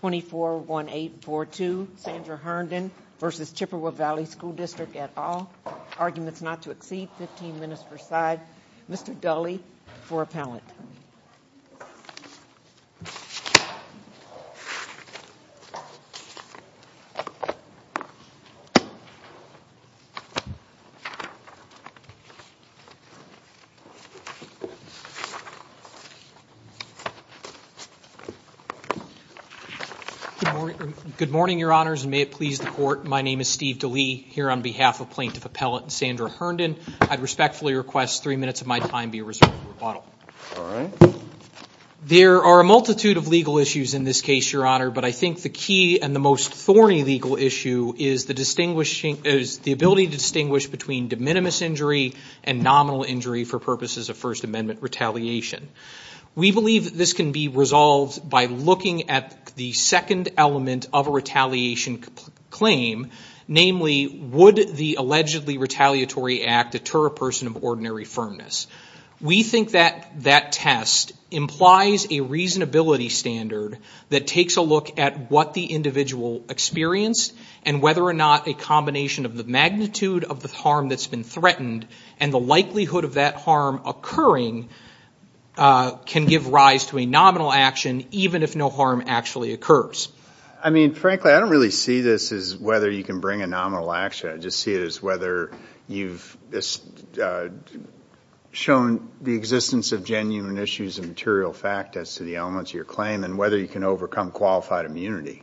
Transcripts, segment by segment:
24 1842 Sandra Herndon versus Chippewa Valley School District at all. Arguments not to exceed 15 minutes per side. Mr Dulley for appellant. Yeah. Yeah. Yeah. Yeah. Yeah. Yeah. Yeah. Good morning. Good morning, your honors. May it please the court. My name is Steve Dulley here on behalf of plaintiff appellant Sandra Herndon. I'd respectfully request three minutes of my time be reserved for rebuttal. There are a multitude of legal issues in this case, your honor, but I think the key and the most thorny legal issue is the distinguishing is the ability to distinguish between de minimis injury and nominal injury for purposes of First Amendment retaliation. We believe that this can be resolved by looking at the second element of a retaliation claim, namely would the allegedly retaliatory act deter a person of ordinary firmness. We think that that test implies a reasonability standard that takes a look at what the individual experienced and whether or not a combination of the magnitude of the harm that's been threatened and the likelihood of that harm occurring can give rise to a nominal action, even if no harm actually occurs. I mean, frankly, I don't really see this as whether you can bring a nominal action. I just see it as whether you've shown the existence of genuine issues and material fact as to the elements of your claim and whether you can overcome qualified immunity.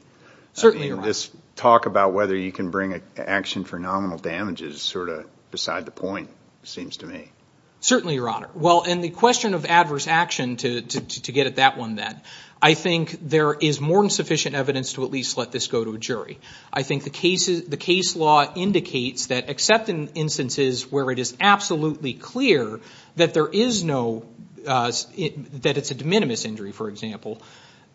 Certainly this talk about whether you can bring an action for nominal damages sort of beside the point seems to me. Certainly, your honor. Well, and the question of adverse action to get at that one then, I think there is more than sufficient evidence to at least let this go to a jury. I think the case law indicates that except in instances where it is absolutely clear that there is no, that it's a de minimis injury, for example,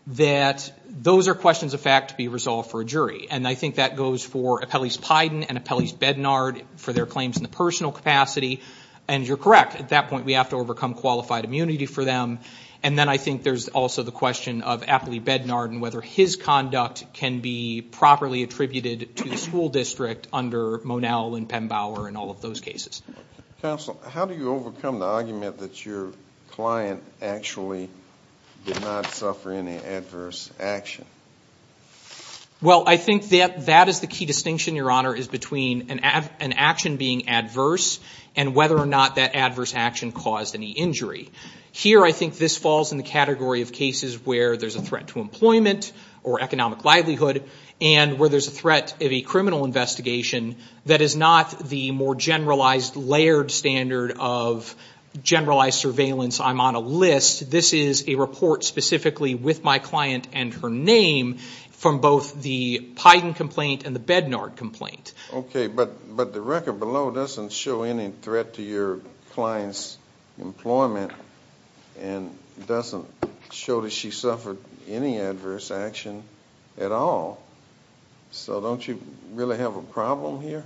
that those are questions of fact to be resolved for a jury. And I think that goes for Apellis-Pydon and Apellis-Bednard for their claims in the personal capacity. And you're correct. At that point, we have to overcome qualified immunity for them. And then I think there's also the question of Apellis-Bednard and whether his conduct can be properly attributed to the school district under Monell and Pembower and all of those cases. Counsel, how do you overcome the argument that your client actually did not suffer any adverse action? Well, I think that that is the key distinction, your honor, is between an action being adverse and whether or not that adverse action caused any injury. Here, I think this falls in the category of cases where there's a threat to employment or economic livelihood and where there's a threat of a criminal investigation that is not the more generalized, layered standard of generalized surveillance. I'm on a list. This is a report specifically with my client and her name from both the Pydon complaint and the Bednard complaint. Okay, but the record below doesn't show any threat to your client's employment and doesn't show that she suffered any adverse action at all. So don't you really have a problem here?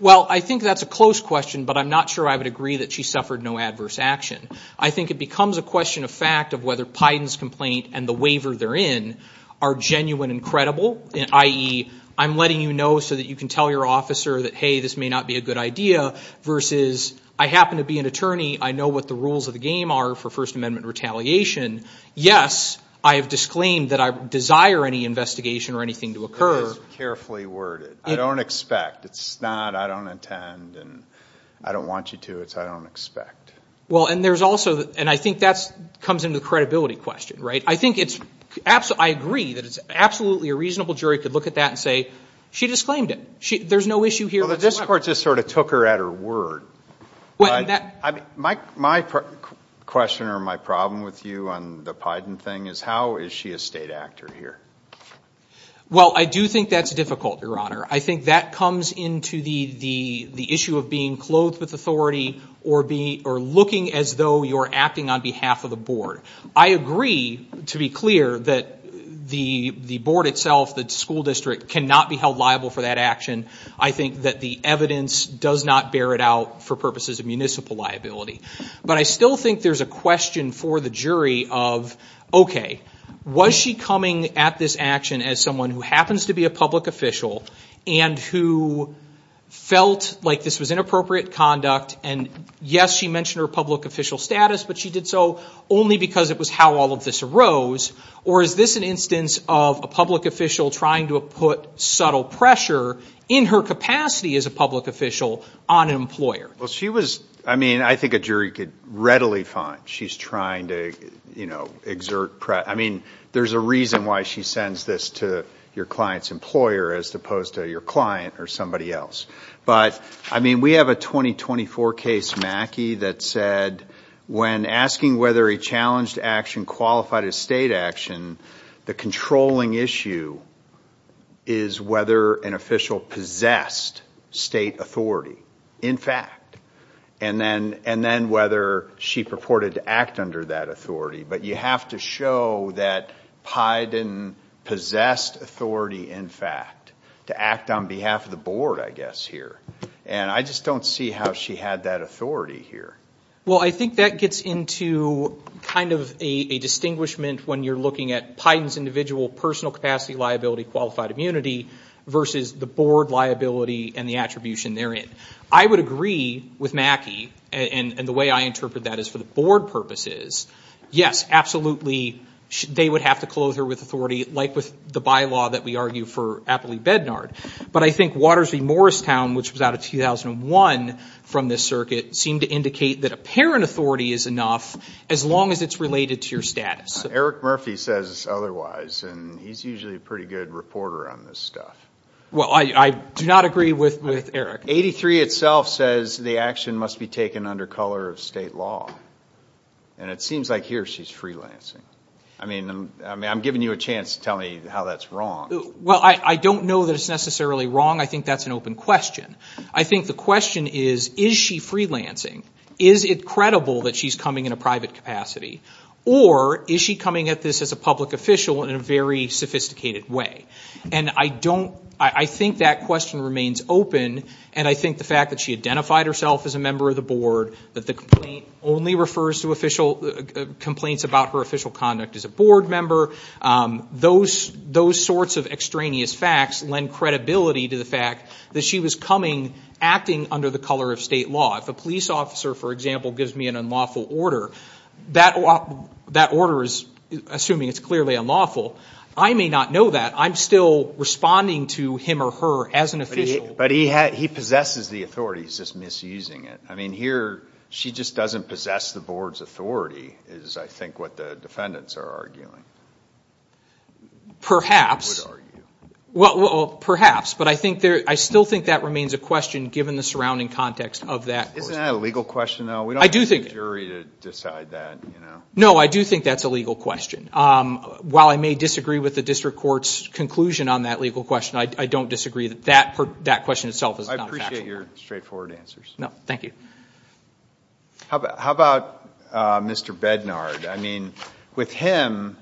Well, I think that's a close question, but I'm not sure I would agree that she suffered no adverse action. I think it becomes a question of fact of whether Pydon's complaint and the waiver they're in are genuine and credible, i.e., I'm letting you know so that you can tell your officer that, hey, this may not be a good idea versus I happen to be an attorney. I know what the rules of the game are for First Amendment retaliation. Yes, I have disclaimed that I desire any investigation or anything to occur. It is carefully worded. I don't expect. It's not I don't intend and I don't want you to. It's I don't expect. Well, and there's also and I think that's comes into the credibility question, right? I think it's absolutely I agree that it's absolutely a reasonable jury could look at that and say she disclaimed it. There's no issue here. But this court just sort of took her at her word. Well, my question or my problem with you on the Pydon thing is how is she a state actor here? Well, I do think that's difficult, Your Honor. I think that comes into the issue of being clothed with authority or looking as though you're acting on behalf of the board. I agree, to be clear, that the board itself, the school district, cannot be held liable for that action. I think that the evidence does not bear it out for purposes of municipal liability. But I still think there's a question for the jury of, OK, was she coming at this action as someone who happens to be a public official? And who felt like this was inappropriate conduct? And yes, she mentioned her public official status, but she did so only because it was how all of this arose. Or is this an instance of a public official trying to put subtle pressure in her capacity as a public official on an employer? Well, she was I mean, I think a jury could readily find she's trying to, you know, exert. I mean, there's a reason why she sends this to your client's employer as opposed to your client or somebody else. But I mean, we have a 2024 case, Mackey, that said when asking whether he challenged action qualified as state action, the controlling issue is whether an official possessed state authority, in fact, and then whether she purported to act under that authority. But you have to show that Pydon possessed authority, in fact, to act on behalf of the board, I guess, here. And I just don't see how she had that authority here. Well, I think that gets into kind of a distinguishment when you're looking at Pydon's individual personal capacity, liability, qualified immunity versus the board liability and the attribution therein. I would agree with Mackey. And the way I interpret that is for the board purposes. Yes, absolutely. They would have to close her with authority, like with the bylaw that we argue for Appley Bednard. But I think Waters v. Morristown, which was out of 2001 from this circuit, seemed to indicate that apparent authority is enough as long as it's related to your status. Eric Murphy says otherwise, and he's usually a pretty good reporter on this stuff. Well, I do not agree with Eric. 83 itself says the action must be taken under color of state law. And it seems like here she's freelancing. I mean, I'm giving you a chance to tell me how that's wrong. Well, I don't know that it's necessarily wrong. I think that's an open question. I think the question is, is she freelancing? Is it credible that she's coming in a private capacity? Or is she coming at this as a public official in a very sophisticated way? And I don't, I think that question remains open. And I think the fact that she identified herself as a member of the board, that the complaint only refers to official complaints about her official conduct as a board member, those sorts of extraneous facts lend credibility to the fact that she was coming, acting under the color of state law. If a police officer, for example, gives me an unlawful order, that order is assuming it's clearly unlawful. I may not know that. I'm still responding to him or her as an official. But he possesses the authority. He's just misusing it. I mean, here, she just doesn't possess the board's authority is, I think, what the defendants are arguing. Perhaps. Well, perhaps. But I think there, I still think that remains a question, given the surrounding context of that. Isn't that a legal question though? We don't have a jury to decide that, you know? No, I do think that's a legal question. While I may disagree with the district court's conclusion on that legal question, I don't disagree that that question itself is not a factual one. I appreciate your straightforward answers. No, thank you. How about Mr. Bednard? I mean, with him,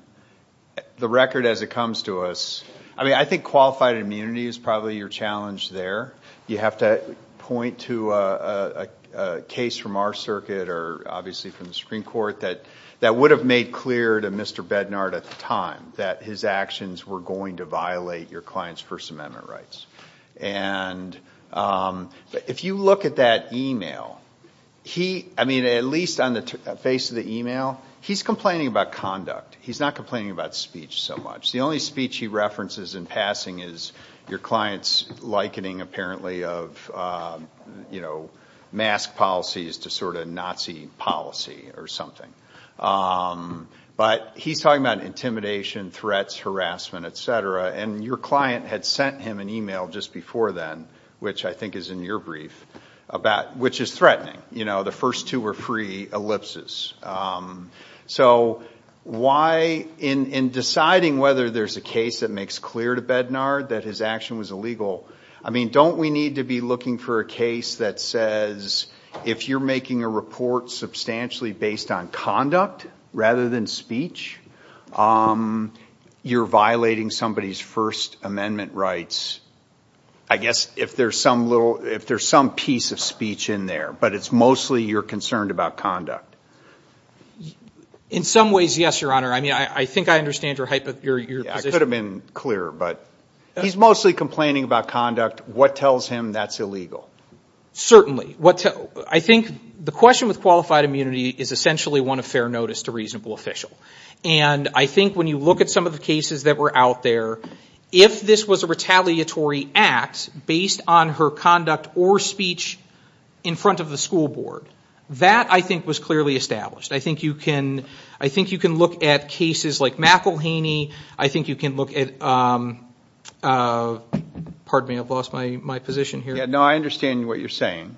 the record as it comes to us, I mean, I think qualified immunity is probably your challenge there. You have to point to a case from our circuit or obviously from the Supreme Court that would have made clear to Mr. Bednard at the time that his actions were going to violate your client's First Amendment rights. And if you look at that email, he, I mean, at least on the face of the email, he's complaining about conduct. He's not complaining about speech so much. The only speech he references in passing is your client's likening apparently of, you know, mask policies to sort of Nazi policy or something. But he's talking about intimidation, threats, harassment, etc. And your client had sent him an email just before then, which I think is in your brief, which is threatening. You know, the first two were free ellipses. So why in deciding whether there's a case that makes clear to Bednard that his action was illegal? I mean, don't we need to be looking for a case that says if you're making a report substantially based on conduct rather than speech, you're violating somebody's First Amendment rights? I guess if there's some little, if there's some piece of speech in there, but it's mostly you're concerned about conduct. In some ways, yes, Your Honor. I mean, I think I understand your position. It could have been clearer, but he's mostly complaining about conduct. What tells him that's illegal? Certainly. What I think the question with qualified immunity is essentially one of fair notice to reasonable official. And I think when you look at some of the cases that were out there, if this was a retaliatory act based on her conduct or speech in front of the school board, that I think was clearly established. I think you can look at cases like McElhaney. I think you can look at, pardon me, I've lost my position here. Yeah, no, I understand what you're saying.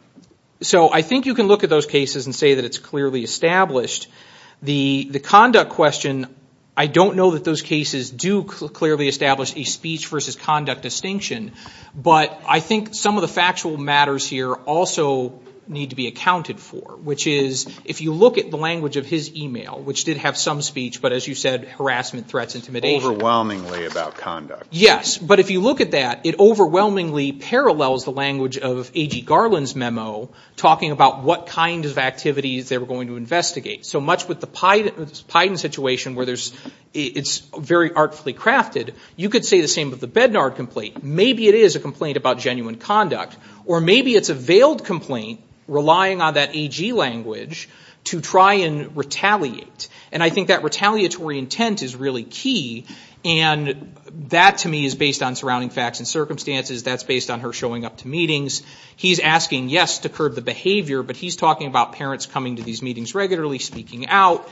So I think you can look at those cases and say that it's clearly established. The conduct question, I don't know that those cases do clearly establish a speech versus conduct distinction. But I think some of the factual matters here also need to be accounted for, which is if you look at the language of his email, which did have some speech, but as you said, harassment, threats, intimidation. Overwhelmingly about conduct. Yes. But if you look at that, it overwhelmingly parallels the language of A.G. Garland's memo talking about what kind of activities they were going to investigate. So much with the Pyden situation where it's very artfully crafted, you could say the same with the Bednard complaint. Maybe it is a complaint about genuine conduct, or maybe it's a veiled complaint relying on that A.G. language to try and retaliate. And I think that retaliatory intent is really key. And that to me is based on surrounding facts and circumstances. That's based on her showing up to meetings. He's asking, yes, to curb the behavior. But he's talking about parents coming to these meetings regularly, speaking out.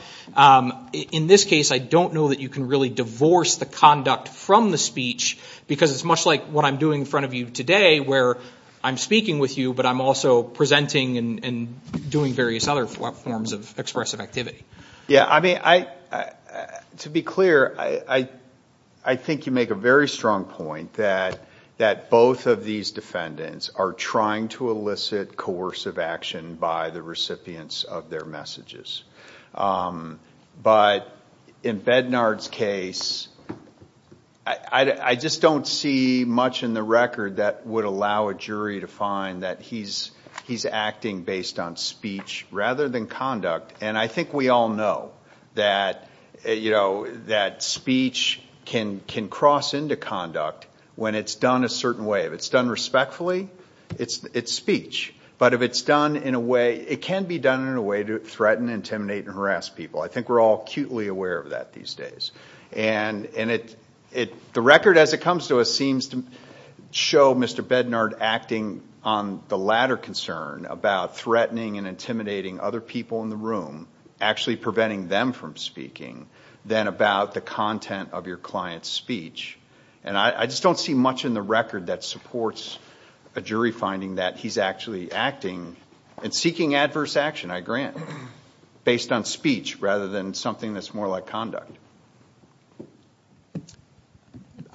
In this case, I don't know that you can really divorce the conduct from the speech because it's much like what I'm doing in front of you today where I'm speaking with you, but I'm also presenting and doing various other forms of expressive activity. Yeah, I mean, to be clear, I think you make a very strong point that both of these defendants are trying to elicit coercive action by the recipients of their messages. But in Bednard's case, I just don't see much in the record that would allow a jury to find that he's acting based on speech rather than conduct. And I think we all know that speech can cross into conduct when it's done a certain way. If it's done respectfully, it's speech. But if it's done in a way, it can be done in a way to threaten, intimidate, and harass people. I think we're all acutely aware of that these days. And the record as it comes to us seems to show Mr. Bednard acting on the latter concern about threatening and intimidating other people in the room, actually preventing them from speaking, than about the content of your client's speech. And I just don't see much in the record that supports a jury finding that he's actually acting and seeking adverse action, I grant, based on speech rather than something that's more like conduct.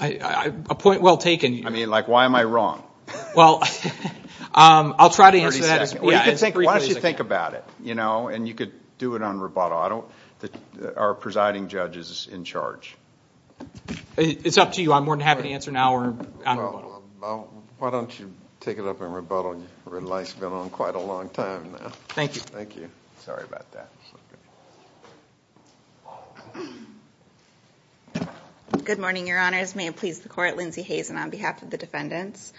A point well taken. I mean, like, why am I wrong? Well, I'll try to answer that as briefly as I can. Why don't you think about it, you know, and you could do it on rebuttal. I don't, are presiding judges in charge? It's up to you. I'm more than happy to answer now or on rebuttal. Why don't you take it up on rebuttal? Your life's been on quite a long time now. Thank you. Thank you. Sorry about that. Good morning, Your Honors. May it please the court, Lindsay Hazen on behalf of the defendants.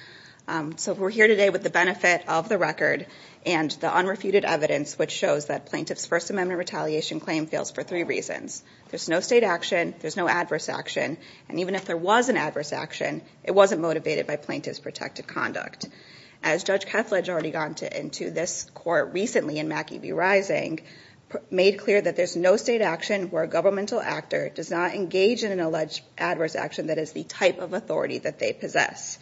So we're here today with the benefit of the record and the unrefuted evidence which shows that plaintiff's First Amendment retaliation claim fails for three reasons. There's no state action. There's no adverse action. And even if there was an adverse action, it wasn't motivated by plaintiff's protective conduct. As Judge Kethledge already got into this court recently in Mackie v. Rising, made clear that there's no state action where a governmental actor does not engage in an alleged adverse action that is the type of authority that they possess.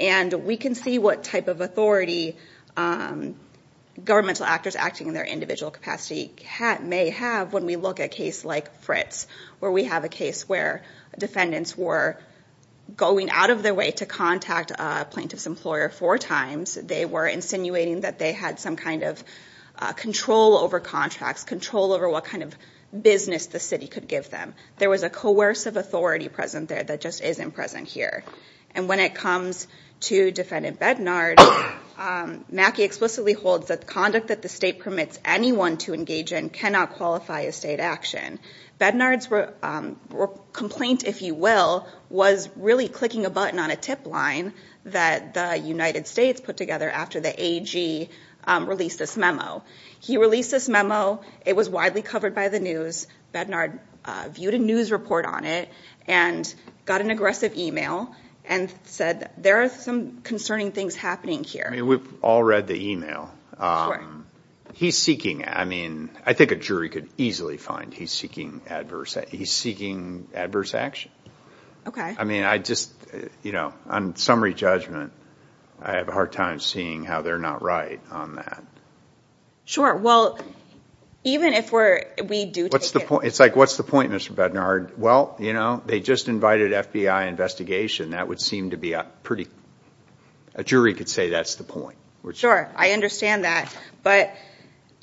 And we can see what type of authority governmental actors acting in their individual capacity may have when we look at a case like Fritz, where we have a case where defendants were going out of their way to contact a plaintiff's employer four times, they were insinuating that they had some kind of control over contracts, control over what kind of business the city could give them. There was a coercive authority present there that just isn't present here. And when it comes to defendant Bednard, Mackie explicitly holds that the conduct that the state permits anyone to engage in cannot qualify as state action. Bednard's complaint, if you will, was really clicking a button on a tip line that the United States put together after the AG released this memo. He released this memo. It was widely covered by the news. Bednard viewed a news report on it and got an aggressive email and said, there are some concerning things happening here. We've all read the email. He's seeking, I mean, I think a jury could easily find. He's seeking adverse, he's seeking adverse action. Okay. I mean, I just, you know, on summary judgment, I have a hard time seeing how they're not right on that. Sure. Well, even if we're, we do take it. What's the point? It's like, what's the point, Mr. Bednard? Well, you know, they just invited FBI investigation. That would seem to be a pretty, a jury could say that's the point. Sure. I understand that. But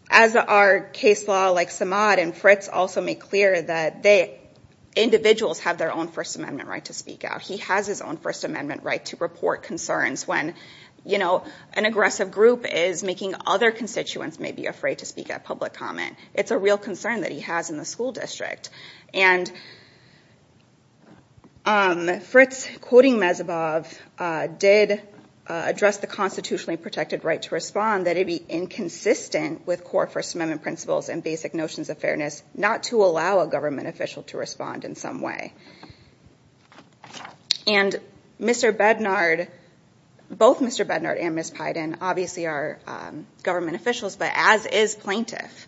as our case law, like Samad and Fritz also made clear that they, individuals have their own first amendment right to speak out. He has his own first amendment right to report concerns when, you know, an aggressive group is making other constituents may be afraid to speak at public comment. It's a real concern that he has in the school district. And Fritz quoting Mezabov did address the constitutionally protected right to respond that it'd be inconsistent with core first amendment principles and basic notions of fairness, not to allow a government official to respond in some way. And Mr. Bednard, both Mr. Bednard and Ms. Biden, obviously are government officials, but as is plaintiff,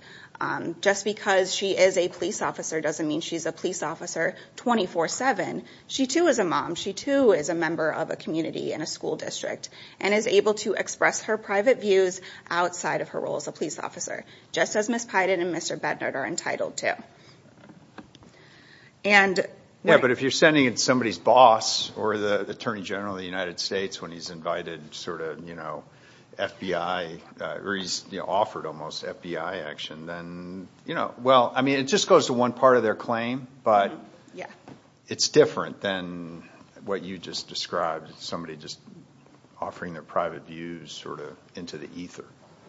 just because she is a police officer doesn't mean she's a police officer 24 seven. She too is a mom. She too is a member of a community and a school district and is able to express her private views outside of her role as a police officer. Just as Ms. Biden and Mr. Bednard are entitled to. And yeah, but if you're sending in somebody's boss or the attorney general of the United States when he's invited sort of, you know, FBI or he's offered almost FBI action, then, you know, well, I mean, it just goes to one part of their claim, but yeah, it's different than what you just described, somebody just offering their private views sort of into the ether.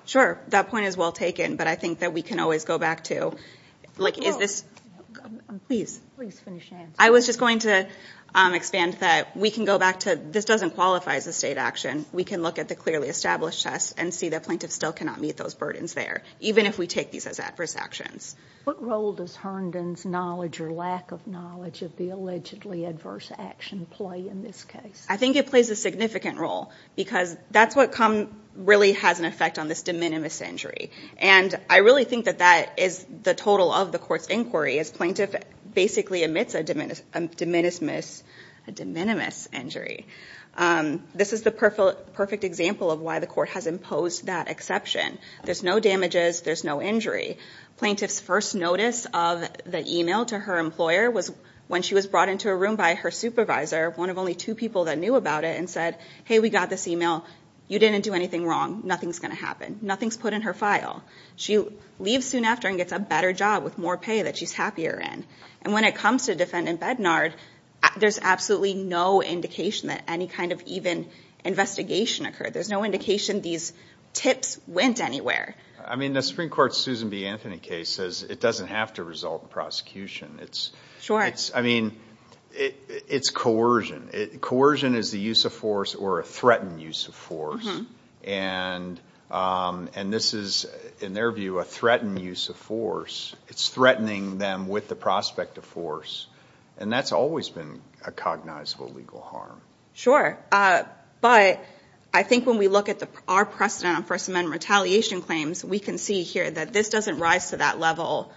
Sure. That point is well taken, but I think that we can always go back to. Like, is this, please, I was just going to expand that we can go back to this doesn't qualify as a state action. We can look at the clearly established tests and see that plaintiff still cannot meet those burdens there, even if we take these as adverse actions. What role does Herndon's knowledge or lack of knowledge of the allegedly adverse action play in this case? I think it plays a significant role because that's what come really has an effect on this de minimis injury. And I really think that that is the total of the court's inquiry as plaintiff basically admits a de minimis injury. This is the perfect example of why the court has imposed that exception. There's no damages. There's no injury. Plaintiff's first notice of the email to her employer was when she was brought into a room by her supervisor, one of only two people that knew about it and said, hey, we got this email. You didn't do anything wrong. Nothing's going to happen. Nothing's put in her file. She leaves soon after and gets a better job with more pay that she's happier in. And when it comes to defendant Bednard, there's absolutely no indication that any kind of even investigation occurred. There's no indication these tips went anywhere. I mean, the Supreme Court's Susan B. Anthony case says it doesn't have to result in prosecution. It's, I mean, it's coercion. Coercion is the use of force or a threatened use of force. And this is, in their view, a threatened use of force. It's threatening them with the prospect of force. And that's always been a cognizable legal harm. Sure. But I think when we look at our precedent on First Amendment retaliation claims, we can see here that this doesn't rise to that level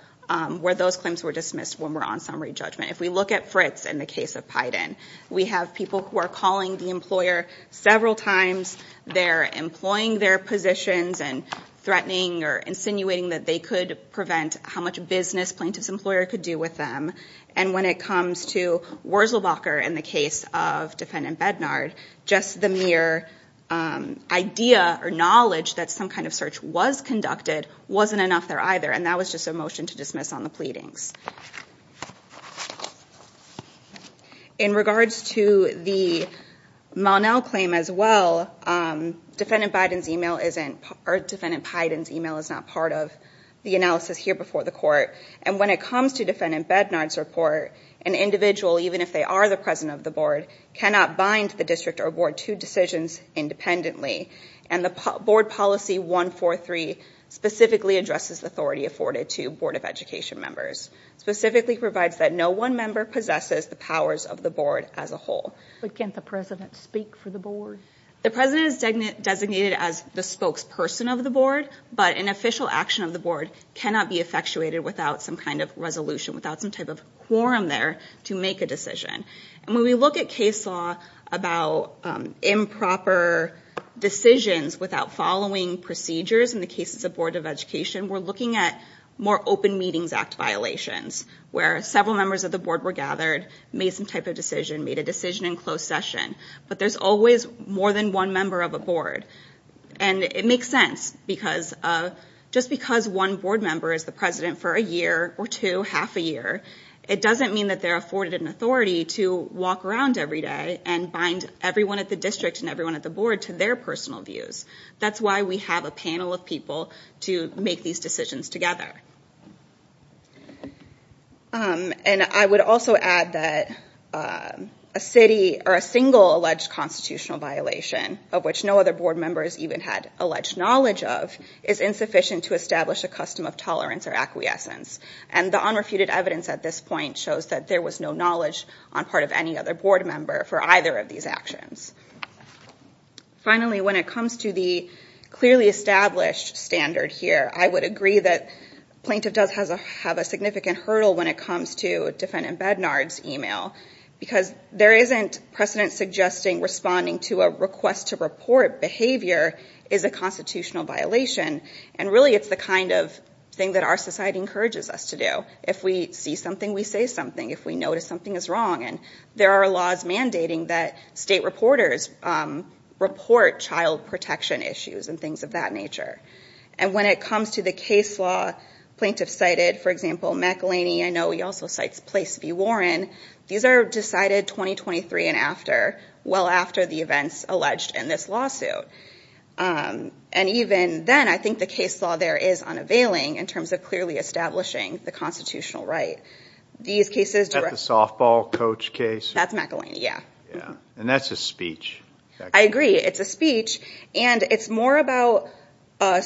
where those claims were dismissed when we're on summary judgment. If we look at Fritz in the case of Pydon, we have people who are calling the employer several times. They're employing their positions and threatening or insinuating that they could prevent how much business plaintiff's employer could do with them. And when it comes to Wurzelbacher in the case of defendant Bednard, just the mere idea or knowledge that some kind of search was conducted wasn't enough there either. And that was just a motion to dismiss on the pleadings. In regards to the Monell claim as well, defendant Pydon's email is not part of the analysis here before the court. And when it comes to defendant Bednard's report, an individual, even if they are the president of the board, cannot bind the district or board to decisions independently. And the board policy 143 specifically addresses the authority afforded to board of education members. Specifically provides that no one member possesses the powers of the board as a whole. But can't the president speak for the board? The president is designated as the spokesperson of the board, but an official action of the board cannot be effectuated without some kind of resolution, without some type of quorum there to make a decision. And when we look at case law about improper decisions without following procedures in the cases of board of education, we're looking at more open meetings act violations. Where several members of the board were gathered, made some type of decision, made a decision in closed session. But there's always more than one member of a board. And it makes sense because just because one board member is the president for a year or two, half a year, it doesn't mean that they're afforded an authority to walk around every day and bind everyone at the district and everyone at the board to their personal views. That's why we have a panel of people to make these decisions together. And I would also add that a city or a single alleged constitutional violation of which no other board members even had alleged knowledge of is insufficient to establish a custom of tolerance or acquiescence. And the unrefuted evidence at this point shows that there was no knowledge on part of any other board member for either of these actions. Finally, when it comes to the clearly established standard here, I would agree that plaintiff does have a significant hurdle when it comes to defendant Bednard's email. Because there isn't precedent suggesting responding to a request to report behavior is a constitutional violation. And really it's the kind of thing that our society encourages us to do. If we see something, we say something. If we notice something is wrong. And there are laws mandating that state reporters report child protection issues and things of that nature. And when it comes to the case law plaintiff cited, for example, McElhinney, I know he also cites Place v. Warren, these are decided 2023 and after, well after the events alleged in this lawsuit. And even then I think the case law there is unavailing in terms of clearly establishing the constitutional right. These cases- Is that the softball coach case? That's McElhinney, yeah. And that's a speech. I agree, it's a speech. And it's more about a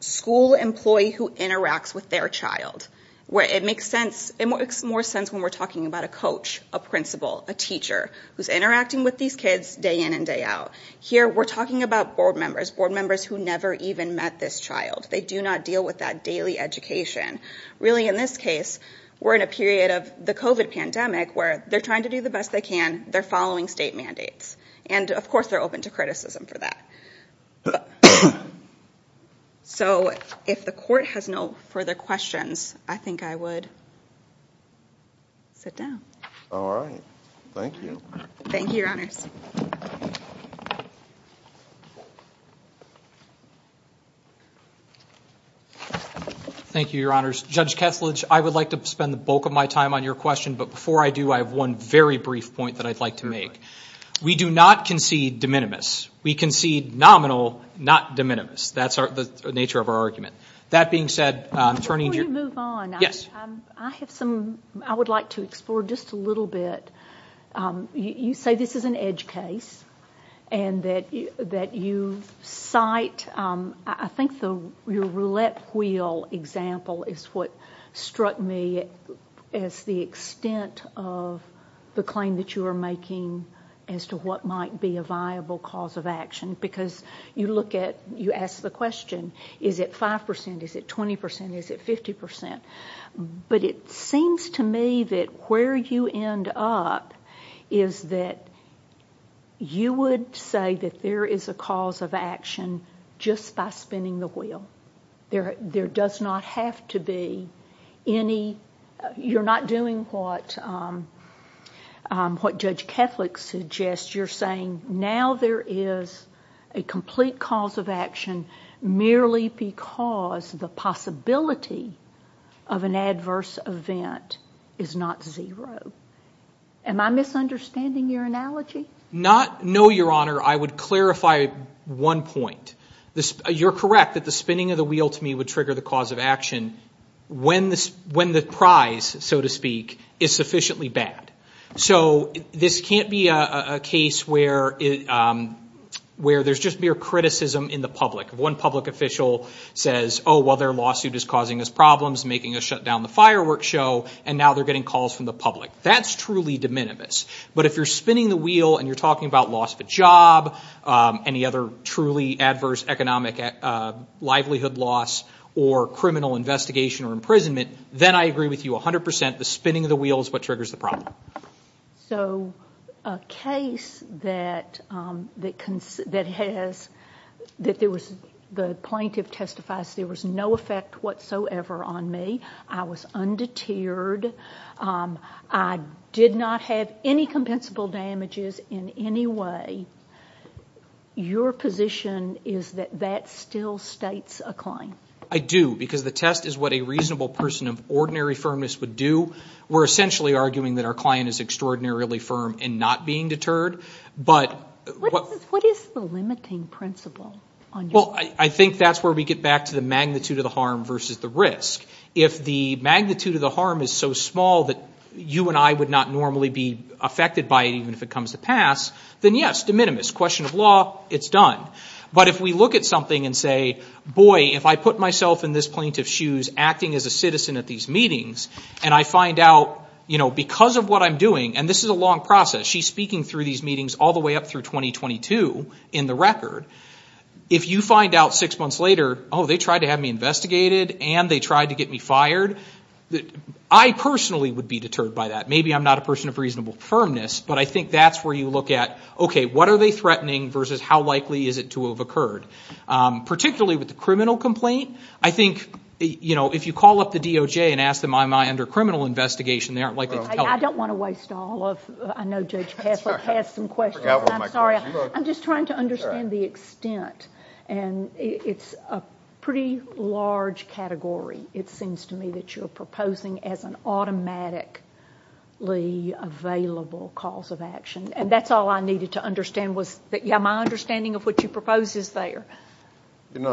school employee who interacts with their child. Where it makes sense, it makes more sense when we're talking about a coach, a principal, a teacher who's interacting with these kids day in and day out. Here, we're talking about board members, board members who never even met this child. They do not deal with that daily education. Really, in this case, we're in a period of the COVID pandemic where they're trying to do the best they can. They're following state mandates. And of course, they're open to criticism for that. So if the court has no further questions, I think I would sit down. All right. Thank you. Thank you, your honors. Judge Kesslidge, I would like to spend the bulk of my time on your question, but before I do, I have one very brief point that I'd like to make. We do not concede de minimis. We concede nominal, not de minimis. That's the nature of our argument. That being said, turning to your- Before you move on, I have some, I would like to explore just a little bit. You say this is an edge case. And I'm going to say that this is an edge case, but I'm going to say that it's not an edge case, because it's not an edge case. And that you cite, I think your roulette wheel example is what struck me as the extent of the claim that you are making as to what might be a viable cause of action. Because you look at, you ask the question, is it 5%, is it 20%, is it 50%? But it seems to me that where you end up is that you would say that there is a cause of action just by spinning the wheel. There does not have to be any, you're not doing what Judge Kethledge suggests. You're saying now there is a complete cause of action merely because the possibility of an adverse event is not zero. Am I misunderstanding your analogy? Not, no, Your Honor. I would clarify one point. You're correct that the spinning of the wheel to me would trigger the cause of action when the prize, so to speak, is sufficiently bad. So this can't be a case where there's just mere criticism in the public. One public official says, oh, well, their lawsuit is causing us problems, making us shut down the fireworks show, and now they're getting calls from the public. That's truly de minimis. But if you're spinning the wheel and you're talking about loss of a job, any other truly adverse economic livelihood loss, or criminal investigation or imprisonment, then I agree with you 100%. The spinning of the wheel is what triggers the problem. So a case that has, that the plaintiff testifies there was no effect whatsoever on me, I was undeterred, I did not have any compensable damages in any way. Your position is that that still states a claim. I do, because the test is what a reasonable person of ordinary firmness would do. We're essentially arguing that our client is extraordinarily firm in not being deterred. But what is the limiting principle? Well, I think that's where we get back to the magnitude of the harm versus the risk. If the magnitude of the harm is so small that you and I would not normally be affected by it, even if it comes to pass, then yes, de minimis. Question of law, it's done. But if we look at something and say, boy, if I put myself in this plaintiff's shoes, acting as a citizen at these meetings, and I find out, you know, because of what I'm doing, and this is a long process, she's speaking through these meetings all the way up through 2022 in the record. If you find out six months later, oh, they tried to have me investigated and they tried to get me fired, I personally would be deterred by that. Maybe I'm not a person of reasonable firmness, but I think that's where you look at, okay, what are they threatening versus how likely is it to have occurred? Particularly with the criminal complaint, I think, you know, if you call up the DOJ and ask them, am I under criminal investigation, they aren't likely to tell you. I don't want to waste all of, I know Judge Passler has some questions, I'm sorry, I'm just trying to understand the extent. And it's a pretty large category. It seems to me that you're proposing as an automatically available cause of action, and that's all I needed to understand was that, yeah, my understanding of what you propose is there. You know,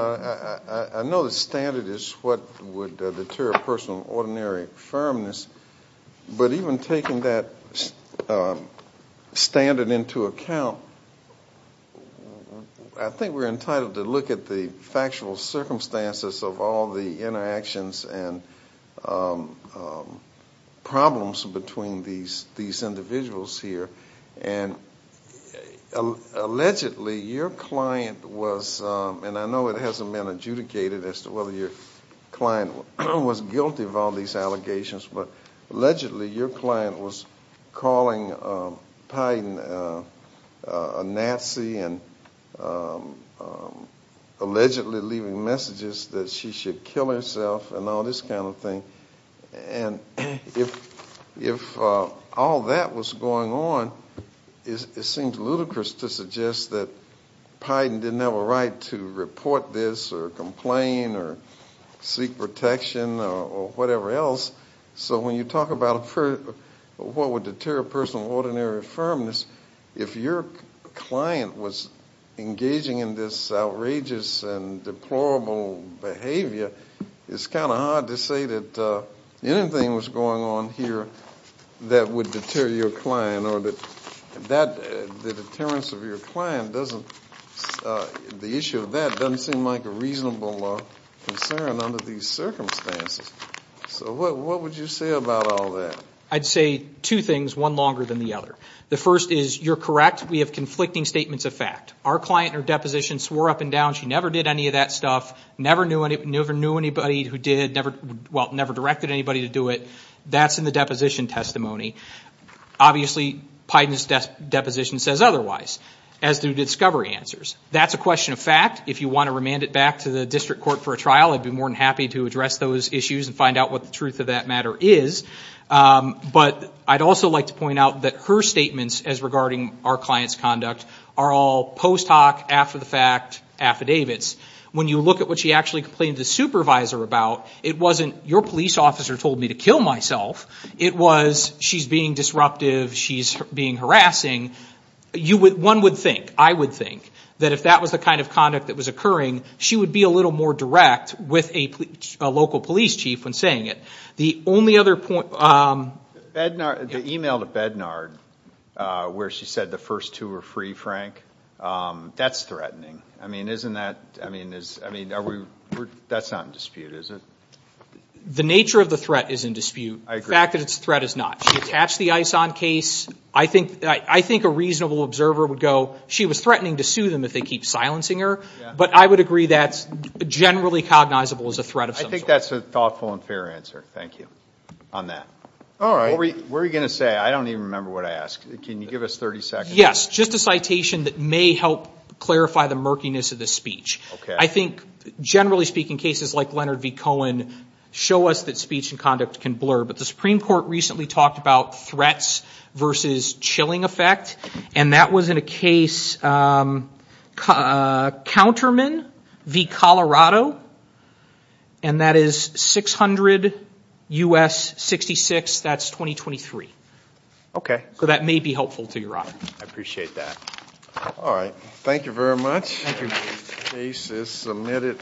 I know the standard is what would deter a person of ordinary firmness, but even taking that standard into account, I think we're entitled to look at the factual circumstances of all the interactions and problems between these individuals here. And allegedly, your client was, and I know it hasn't been adjudicated as to whether your client was guilty of all these allegations, but allegedly your client was calling Pyden a Nazi and allegedly leaving messages that she should kill herself and all this kind of thing. And if all that was going on, it seems ludicrous to suggest that Pyden didn't have a right to report this or complain or seek protection or whatever else. So when you talk about what would deter a person of ordinary firmness, if your client was engaging in this outrageous and deplorable behavior, it's kind of hard to say that anything was going on here that would deter your client or that the deterrence of your client doesn't, the issue of that doesn't seem like a reasonable concern under these circumstances. So what would you say about all that? I'd say two things, one longer than the other. The first is, you're correct, we have conflicting statements of fact. Our client in her deposition swore up and down she never did any of that stuff, never knew anybody who did, never directed anybody to do it. That's in the deposition testimony. Obviously, Pyden's deposition says otherwise, as do discovery answers. That's a question of fact. If you want to remand it back to the district court for a trial, I'd be more than happy to address those issues and find out what the truth of that matter is. But I'd also like to point out that her statements as regarding our client's conduct are all post hoc, after the fact affidavits. When you look at what she actually complained to the supervisor about, it wasn't your police officer told me to kill myself, it was she's being disruptive, she's being harassing. One would think, I would think, that if that was the kind of conduct that was occurring, she would be a little more direct with a local police chief when saying it. The only other point... Bednard, the email to Bednard, where she said the first two were free, Frank, that's threatening. I mean, isn't that, I mean, that's not in dispute, is it? The nature of the threat is in dispute. I agree. The fact that it's a threat is not. She attached the ISON case. I think a reasonable observer would go, she was threatening to sue them if they keep silencing her. But I would agree that's generally cognizable as a threat of some sort. I think that's a thoughtful and fair answer. Thank you. On that. What were you going to say? I don't even remember what I asked. Can you give us 30 seconds? Yes. Just a citation that may help clarify the murkiness of this speech. Okay. I think, generally speaking, cases like Leonard v. Cohen show us that speech and conduct can blur, but the Supreme Court recently talked about threats versus chilling effect, and that was in a case, Counterman v. Colorado, and that is 600 U.S. 66, that's 2023. Okay. So that may be helpful to your honor. I appreciate that. All right. Thank you very much. Thank you. The case is submitted.